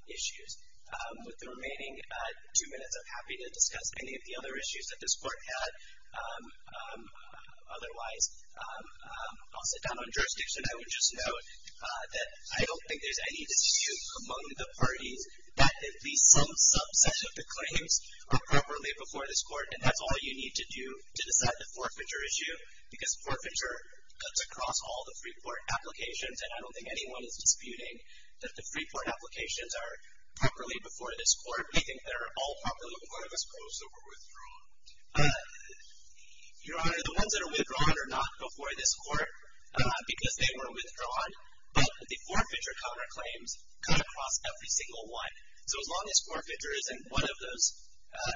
issues. With the remaining two minutes, I'm happy to discuss any of the other issues that this Court had otherwise. I'll sit down on jurisdiction. I would just note that I don't think there's any dispute among the parties that at least some subset of the claims are properly before this Court, and that's all you need to do to decide the forfeiture issue because forfeiture cuts across all the free court applications, and I don't think anyone is disputing that the free court applications are properly before this Court. I think they're all properly before this Court. Those that were withdrawn. Your Honor, the ones that are withdrawn are not before this Court because they were withdrawn, but the forfeiture counterclaims cut across every single one. So as long as forfeiture isn't one of those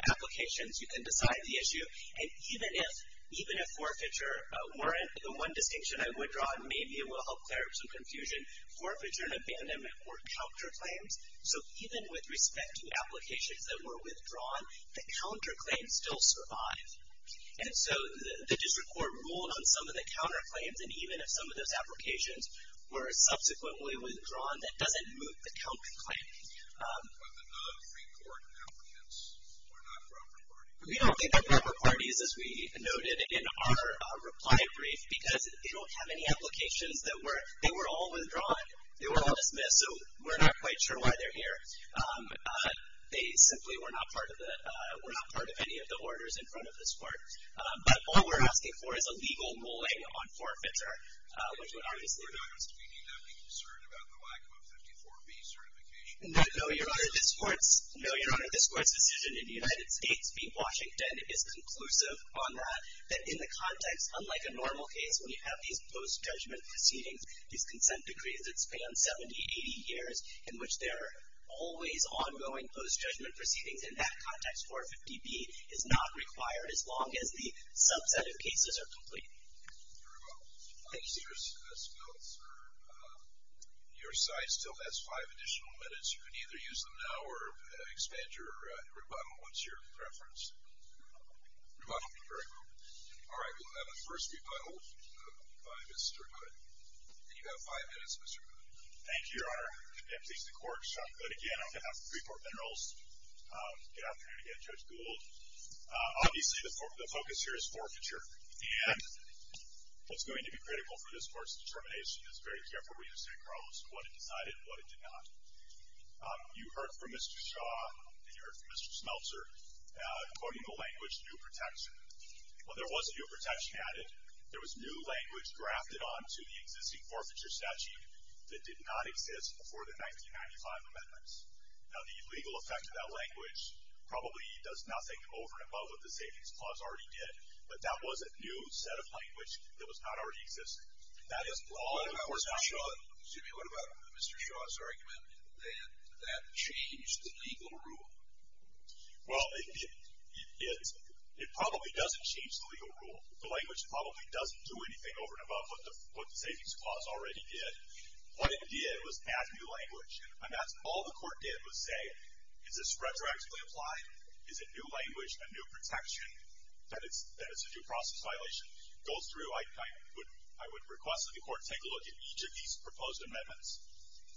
applications, you can decide the issue. And even if forfeiture weren't the one distinction I would draw, and maybe it will help clear up some confusion, forfeiture and abandonment were counterclaims. So even with respect to applications that were withdrawn, the counterclaims still survive. And so the district court ruled on some of the counterclaims, and even if some of those applications were subsequently withdrawn, that doesn't move the counterclaim. But the non-free court applicants were not proper parties. We don't think they're proper parties, as we noted in our reply brief, because they don't have any applications. They were all withdrawn. They were all dismissed. So we're not quite sure why they're here. They simply were not part of any of the orders in front of this Court. But all we're asking for is a legal mulling on forfeiture, which would obviously be the best. We need not be concerned about the lack of a 54B certification. No, Your Honor, this Court's decision in the United States v. Washington is conclusive on that, that in the context, unlike a normal case, when you have these post-judgment proceedings, these consent decrees that span 70, 80 years, in which there are always ongoing post-judgment proceedings, in that context, 450B is not required, as long as the subset of cases are complete. Thank you. Your rebuttal. Thank you, sir. Your side still has five additional minutes. You can either use them now or expand your rebuttal once you're preferenced. Rebuttal. Rebuttal. Very well. All right. We'll have a first rebuttal by Mr. Hood. And you have five minutes, Mr. Hood. Thank you, Your Honor, and please, the Court. But again, I'm going to have three more minerals get out there and get Judge Gould. Obviously, the focus here is forfeiture. And what's going to be critical for this Court's determination is very carefully to say, Carlos, what it decided and what it did not. You heard from Mr. Shaw, and you heard from Mr. Smeltzer, quoting the language, new protection. Well, there was a new protection added. There was new language grafted onto the existing forfeiture statute that did not exist before the 1995 amendments. Now, the legal effect of that language probably does nothing over and above what the Savings Clause already did, but that was a new set of language that was not already existing. What about Mr. Shaw's argument that that changed the legal rule? Well, it probably doesn't change the legal rule. The language probably doesn't do anything over and above what the Savings Clause already did. What it did was add new language, and that's all the Court did was say, is this retroactively applied? Is it new language, a new protection, that it's a due process violation? It goes through. I would request that the Court take a look at each of these proposed amendments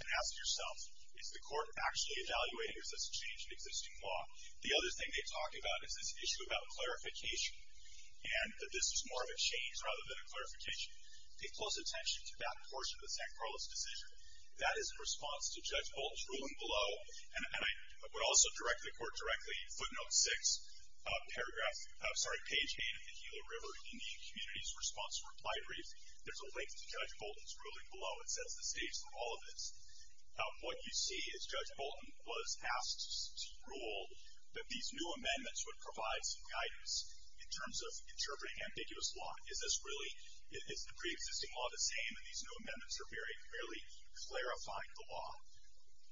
and ask yourself, is the Court actually evaluating, is this a change in existing law? The other thing they talk about is this issue about clarification, and that this is more of a change rather than a clarification. Pay close attention to that portion of the St. Carlos decision. That is in response to Judge Bolt's ruling below, and I would also direct the Court directly, footnote 6, paragraph, sorry, page 8 of the Gila River Indian Community's response to reply brief. There's a link to Judge Bolton's ruling below. It sets the stage for all of this. What you see is Judge Bolton was asked to rule that these new amendments would provide some guidance in terms of interpreting ambiguous law. Is this really, is the preexisting law the same, and these new amendments are barely clarifying the law?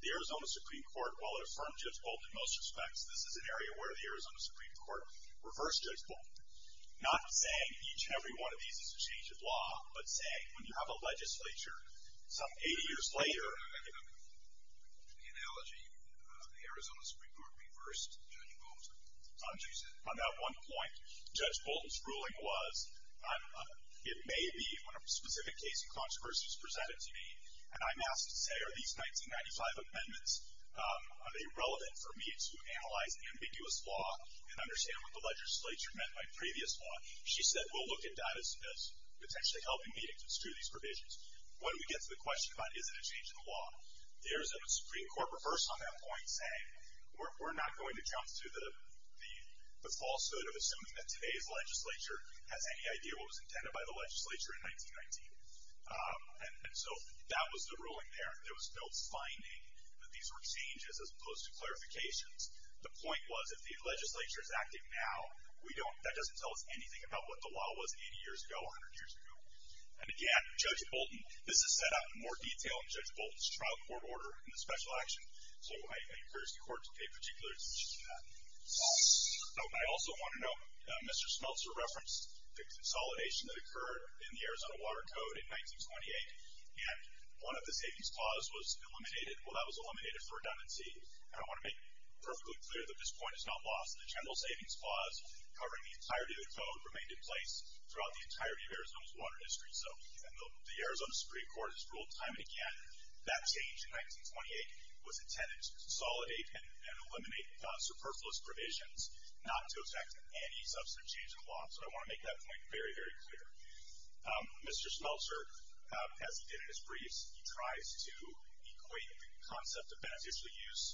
The Arizona Supreme Court, while it affirmed Judge Bolton in most respects, this is an area where the Arizona Supreme Court reversed Judge Bolton. Not saying each and every one of these is a change of law, but saying when you have a legislature some 80 years later. In the analogy, the Arizona Supreme Court reversed Judge Bolton. On that one point, Judge Bolton's ruling was, it may be when a specific case of controversy is presented to me, and I'm asked to say, are these 1995 amendments, are they relevant for me to analyze ambiguous law and understand what the legislature meant by previous law? She said, we'll look at that as potentially helping me to construe these provisions. When we get to the question about is it a change in the law, the Arizona Supreme Court reversed on that point saying, we're not going to jump to the falsehood of assuming that today's legislature has any idea what was intended by the legislature in 1919. And so that was the ruling there. There was no finding that these were changes as opposed to clarifications. The point was, if the legislature is active now, that doesn't tell us anything about what the law was 80 years ago, 100 years ago. And again, Judge Bolton, this is set up in more detail in Judge Bolton's trial court order in the special action. So I encourage the court to pay particular attention to that. I also want to note, Mr. Smeltzer referenced the consolidation that occurred in the Arizona Water Code in 1928. And one of the savings clause was eliminated. Well, that was eliminated for redundancy. And I want to make perfectly clear that this point is not lost. The general savings clause covering the entirety of the code remained in place throughout the entirety of Arizona's water history. So the Arizona Supreme Court has ruled time and again that change in 1928 was intended to consolidate and eliminate superfluous provisions, not to affect any substantive change in the law. So I want to make that point very, very clear. Mr. Smeltzer, as he did in his briefs, he tries to equate the concept of beneficial use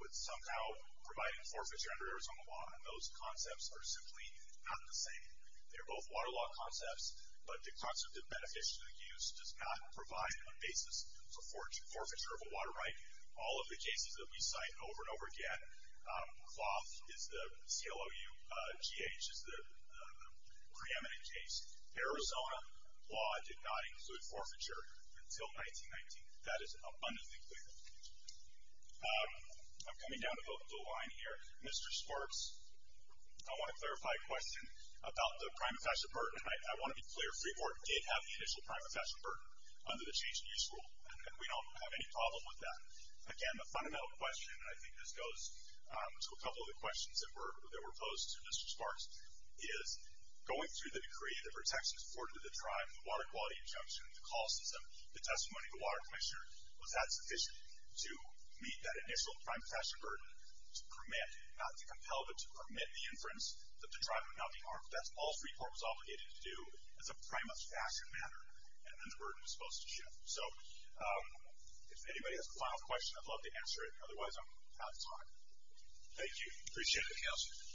with somehow providing forfeiture under Arizona law. And those concepts are simply not the same. They're both water law concepts, but the concept of beneficial use does not provide a basis for forfeiture of a water right. All of the cases that we cite over and over again, cloth is the CLOU, GH is the preeminent case. Arizona law did not include forfeiture until 1919. That is abundantly clear. I'm coming down the line here. Mr. Sparks, I want to clarify a question about the prime official burden. I want to be clear. Freiburg did have the initial prime official burden under the change in use rule, and we don't have any problem with that. Again, the fundamental question, and I think this goes to a couple of the questions that were posed to Mr. Sparks, is going through the decree, the protections afforded to the tribe, the water quality injunction, the call system, the testimony of the water commissioner, was that sufficient to meet that initial prime official burden to permit, not to compel, but to permit the inference that the tribe would not be harmed? That's all Freiburg was obligated to do as a prime official matter, and then the burden was supposed to shift. So if anybody has a final question, I'd love to answer it. Otherwise, I'm out of time. Thank you. Appreciate it, Counselor.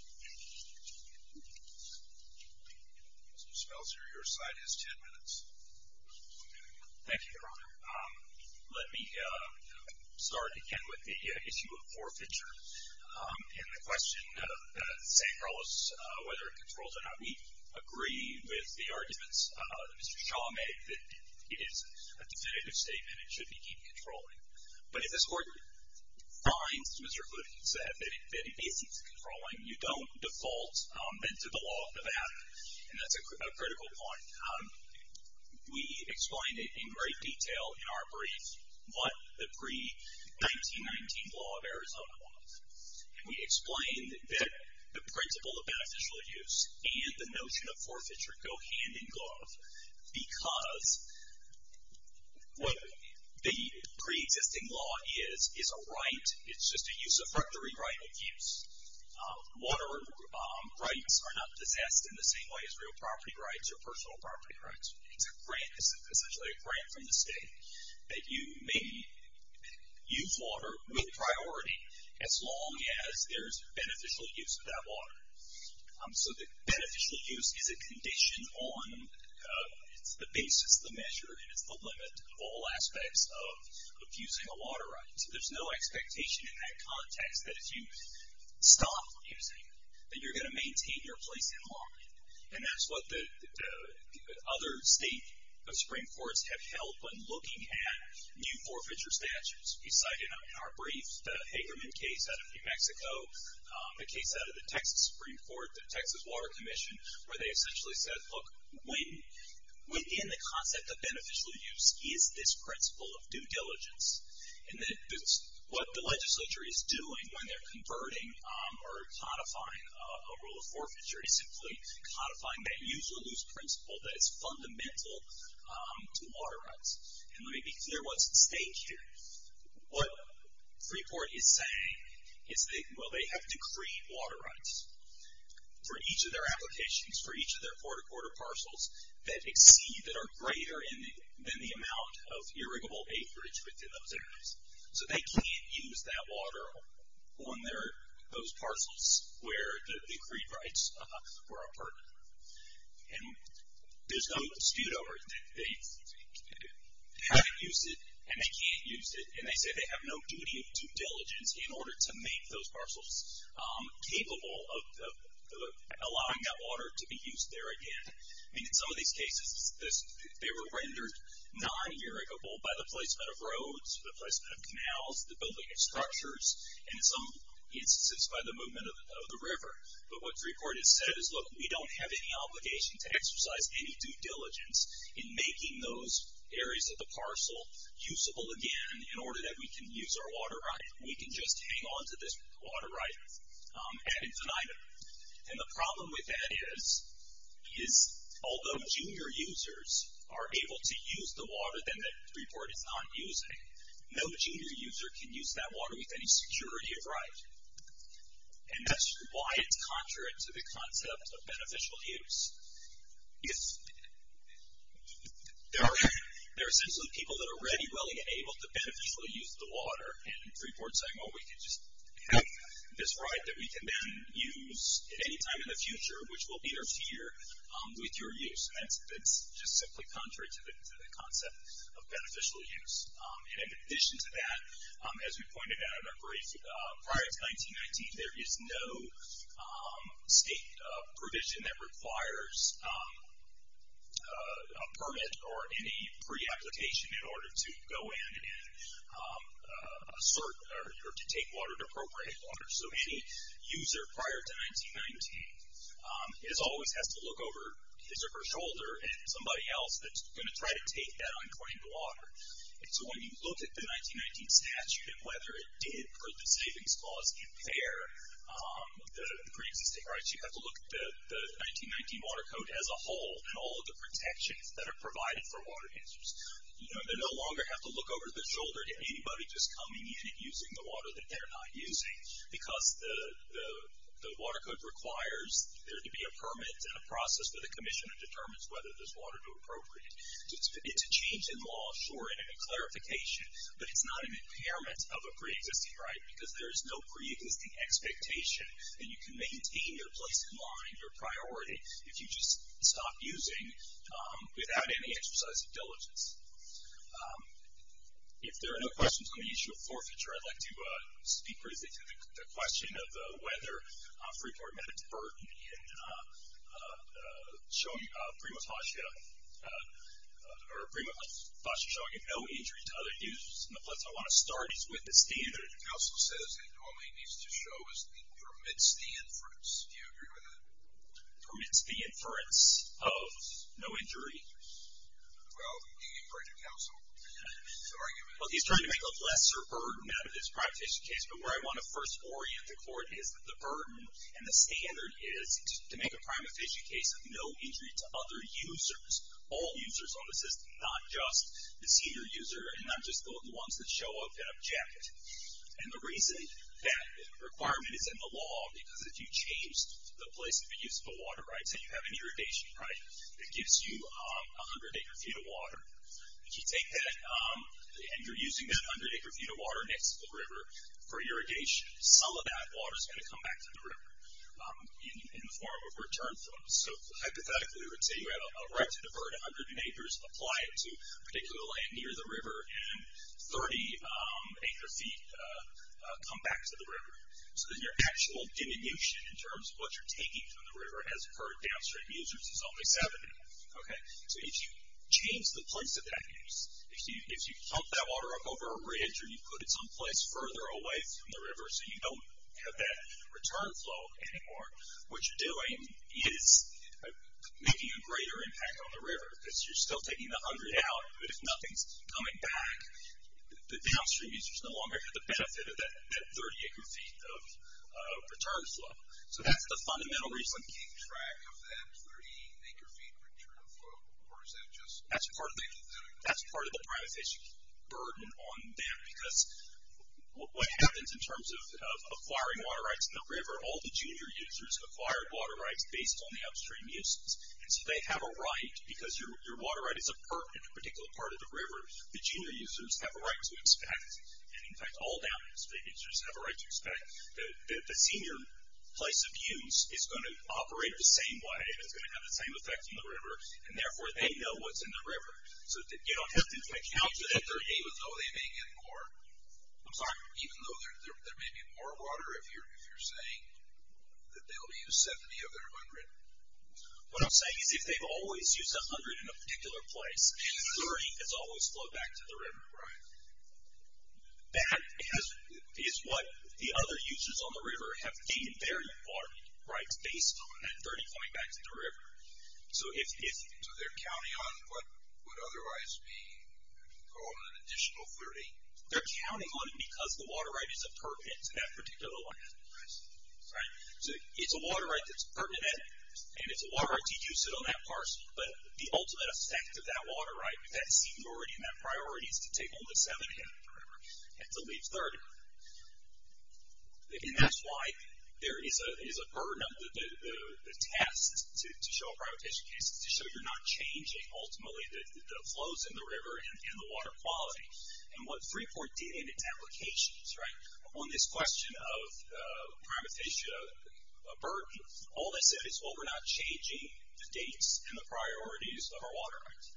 Counselor, your slide has 10 minutes. Thank you, Your Honor. Let me start again with the issue of forfeiture. In the question that St. Carlos, whether it controls or not, we agree with the arguments that Mr. Shaw made, that it is a definitive statement. It should be deemed controlling. But if this Court finds, as Mr. Hood said, that it is controlling, you don't default then to the law of Nevada. And that's a critical point. We explained it in great detail in our brief, what the pre-1919 law of Arizona was. And we explained that the principle of beneficial use and the notion of forfeiture go hand in glove. Because what the pre-existing law is, is a right. It's just a use of property right of use. Water rights are not possessed in the same way as real property rights or personal property rights. It's a grant, essentially a grant from the state, that you may use water with priority, as long as there's beneficial use of that water. So the beneficial use is a condition on the basis, the measure, and it's the limit of all aspects of abusing a water right. So there's no expectation in that context that if you stop abusing, that you're going to maintain your place in law. And that's what the other state Supreme Courts have held when looking at new forfeiture statutes. We cite in our brief the Hagerman case out of New Mexico, the case out of the Texas Supreme Court, the Texas Water Commission, where they essentially said, look, within the concept of beneficial use is this principle of due diligence. And that what the legislature is doing when they're converting or codifying a rule of forfeiture is simply codifying that use as fundamental to water rights. And let me be clear what's at stake here. What Freeport is saying is that, well, they have decreed water rights for each of their applications, for each of their quarter-quarter parcels that exceed, that are greater than the amount of irrigable acreage within those areas. So they can't use that water on their, those parcels where the decreed rights were a burden. And there's no dispute over it. They haven't used it and they can't use it. And they say they have no duty of due diligence in order to make those parcels capable of allowing that water to be used there again. I mean, in some of these cases, they were rendered non-irrigable by the placement of roads, the placement of canals, the building of structures, and in some instances by the movement of the river. But what Freeport has said is, look, we don't have any obligation to exercise any due diligence in making those areas of the parcel usable again in order that we can use our water right. We can just hang on to this water right ad infinitum. And the problem with that is, is although junior users are able to use the water then that Freeport is not using, no junior user can use that water with any security of right. And that's why it's contrary to the concept of beneficial use. There are essentially people that are ready, willing, and able to beneficially use the water. And Freeport's saying, oh, we can just have this right that we can then use at any time in the future, which will be their fear with your use. And that's just simply contrary to the concept of beneficial use. And in addition to that, as we pointed out in our brief, prior to 1919, there is no state provision that requires a permit or any pre-application in order to go in and assert or to take water, to appropriate water. So any user prior to 1919 always has to look over his or her shoulder at somebody else that's going to try to take that unclaimed water. And so when you look at the 1919 statute and whether it did, for the savings clause, compare the pre-existing rights, you have to look at the 1919 Water Code as a whole and all of the protections that are provided for water users. They no longer have to look over their shoulder at anybody just coming in and using the water that they're not using because the Water Code requires there to be a permit and a process for the commissioner to determine whether this water is appropriate. It's a change in law, sure, and a clarification, but it's not an impairment of a pre-existing right, because there is no pre-existing expectation. And you can maintain your place in law and your priority if you just stop using without any exercise of diligence. If there are no questions on the issue of forfeiture, I'd like to speak briefly to the question of whether a free port meant a or a prima facie showing of no injury to other users. And the place I want to start is with the standard. The counsel says it only needs to show as he permits the inference. Do you agree with that? Permits the inference of no injury. Well, you can get in front of counsel to argue with that. Well, he's trying to make a lesser burden out of this prima facie case, but where I want to first orient the court is that the burden and the standard is to make a prima facie case of no injury to other users, all users on the system, not just the senior user, and not just the ones that show up in a jacket. And the reason that requirement is in the law, because if you change the place of use of the water, right, say you have an irrigation, right, that gives you 100 acre feet of water. If you take that and you're using that 100 acre feet of water next to the river for irrigation, some of that water is going to come back to the river. In the form of return flows. So hypothetically we would say you have a right to divert 100 acres, apply it to particularly near the river, and 30 acre feet come back to the river. So then your actual diminution in terms of what you're taking from the river as per downstream users is only 70, okay? So if you change the place of that use, if you pump that water up over a ridge or you put it someplace further away from the river so you don't have that return flow anymore, what you're doing is making a greater impact on the river because you're still taking the 100 out, but if nothing's coming back, the downstream users no longer get the benefit of that 30 acre feet of return flow. So that's the fundamental reason. Keep track of that 30 acre feet return flow, or is that just? That's part of the privatization burden on them because what happens in terms of acquiring water rights in the river, all the junior users acquire water rights based on the upstream uses. And so they have a right, because your water right is a permit in a particular part of the river, the junior users have a right to expect, and, in fact, all downstream users have a right to expect that the senior place of use is going to operate the same way and it's going to have the same effect on the river, and therefore they know what's in the river. So you don't have to account for that 30 acres, though they may get more. I'm sorry, even though there may be more water if you're saying that they'll use 70 of their 100? What I'm saying is if they've always used 100 in a particular place, 30 has always flowed back to the river. Right. That is what the other users on the river have taken very far rights based on, and 30 coming back to the river. So they're counting on what would otherwise be called an additional 30? They're counting on it because the water right is a permit to that particular land. Right. So it's a water right that's a permit, and it's a water right to use it on that parcel, but the ultimate effect of that water right, that seniority and that priority is to take only 70 of it from the river and to leave 30. And that's why there is a burden of the test to show a prioritization case, to show you're not changing ultimately the flows in the river and the water quality. And what Freeport did in its applications, right, on this question of prioritization of a burden, all they said is, well, we're not changing the dates and the priorities of our water rights.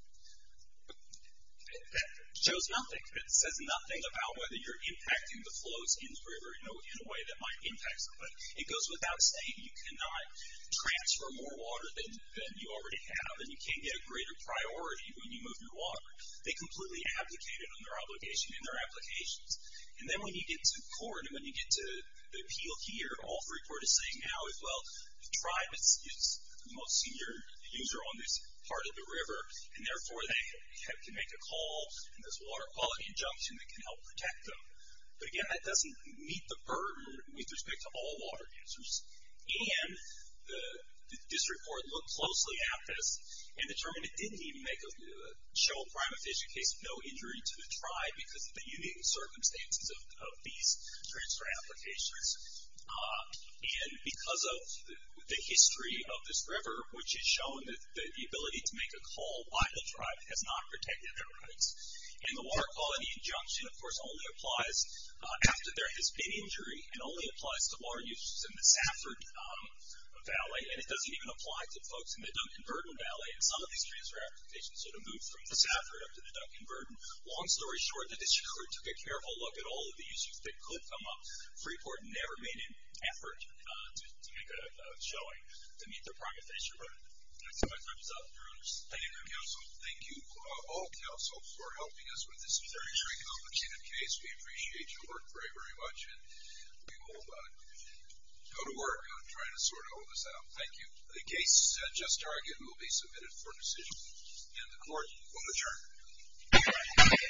That shows nothing. It says nothing about whether you're impacting the flows in the river, you know, in a way that might impact them. But it goes without saying you cannot transfer more water than you already have, and you can't get a greater priority when you move your water. They completely abdicated on their obligation in their applications. And then when you get to court and when you get to the appeal here, all Freeport is saying now is, well, the tribe is the most senior user on this part of the river, and therefore they can make a call in this water quality injunction that can help protect them. But again, that doesn't meet the burden with respect to all water users. And the district court looked closely at this and determined it didn't even show a crime official case of no injury to the tribe because of the unique circumstances of these transfer applications. And because of the history of this river, which has shown that the ability to make a call by the tribe has not protected And the water quality injunction, of course, only applies after there has been injury. It only applies to water users in the Safford Valley, and it doesn't even apply to folks in the Dunkinburton Valley. And some of these transfer applications sort of moved from the Safford up to the Dunkinburton. Long story short, the district court took a careful look at all of these that could come up. Freeport never made an effort to make a showing to meet the crime official burden. So my time is up. Your Honors. Thank you, Counsel. Thank you all, Counsel, for helping us with this very complicated case. We appreciate your work very, very much, and we will go to work on trying to sort all of this out. Thank you. The case just argued will be submitted for decision, and the Court will adjourn.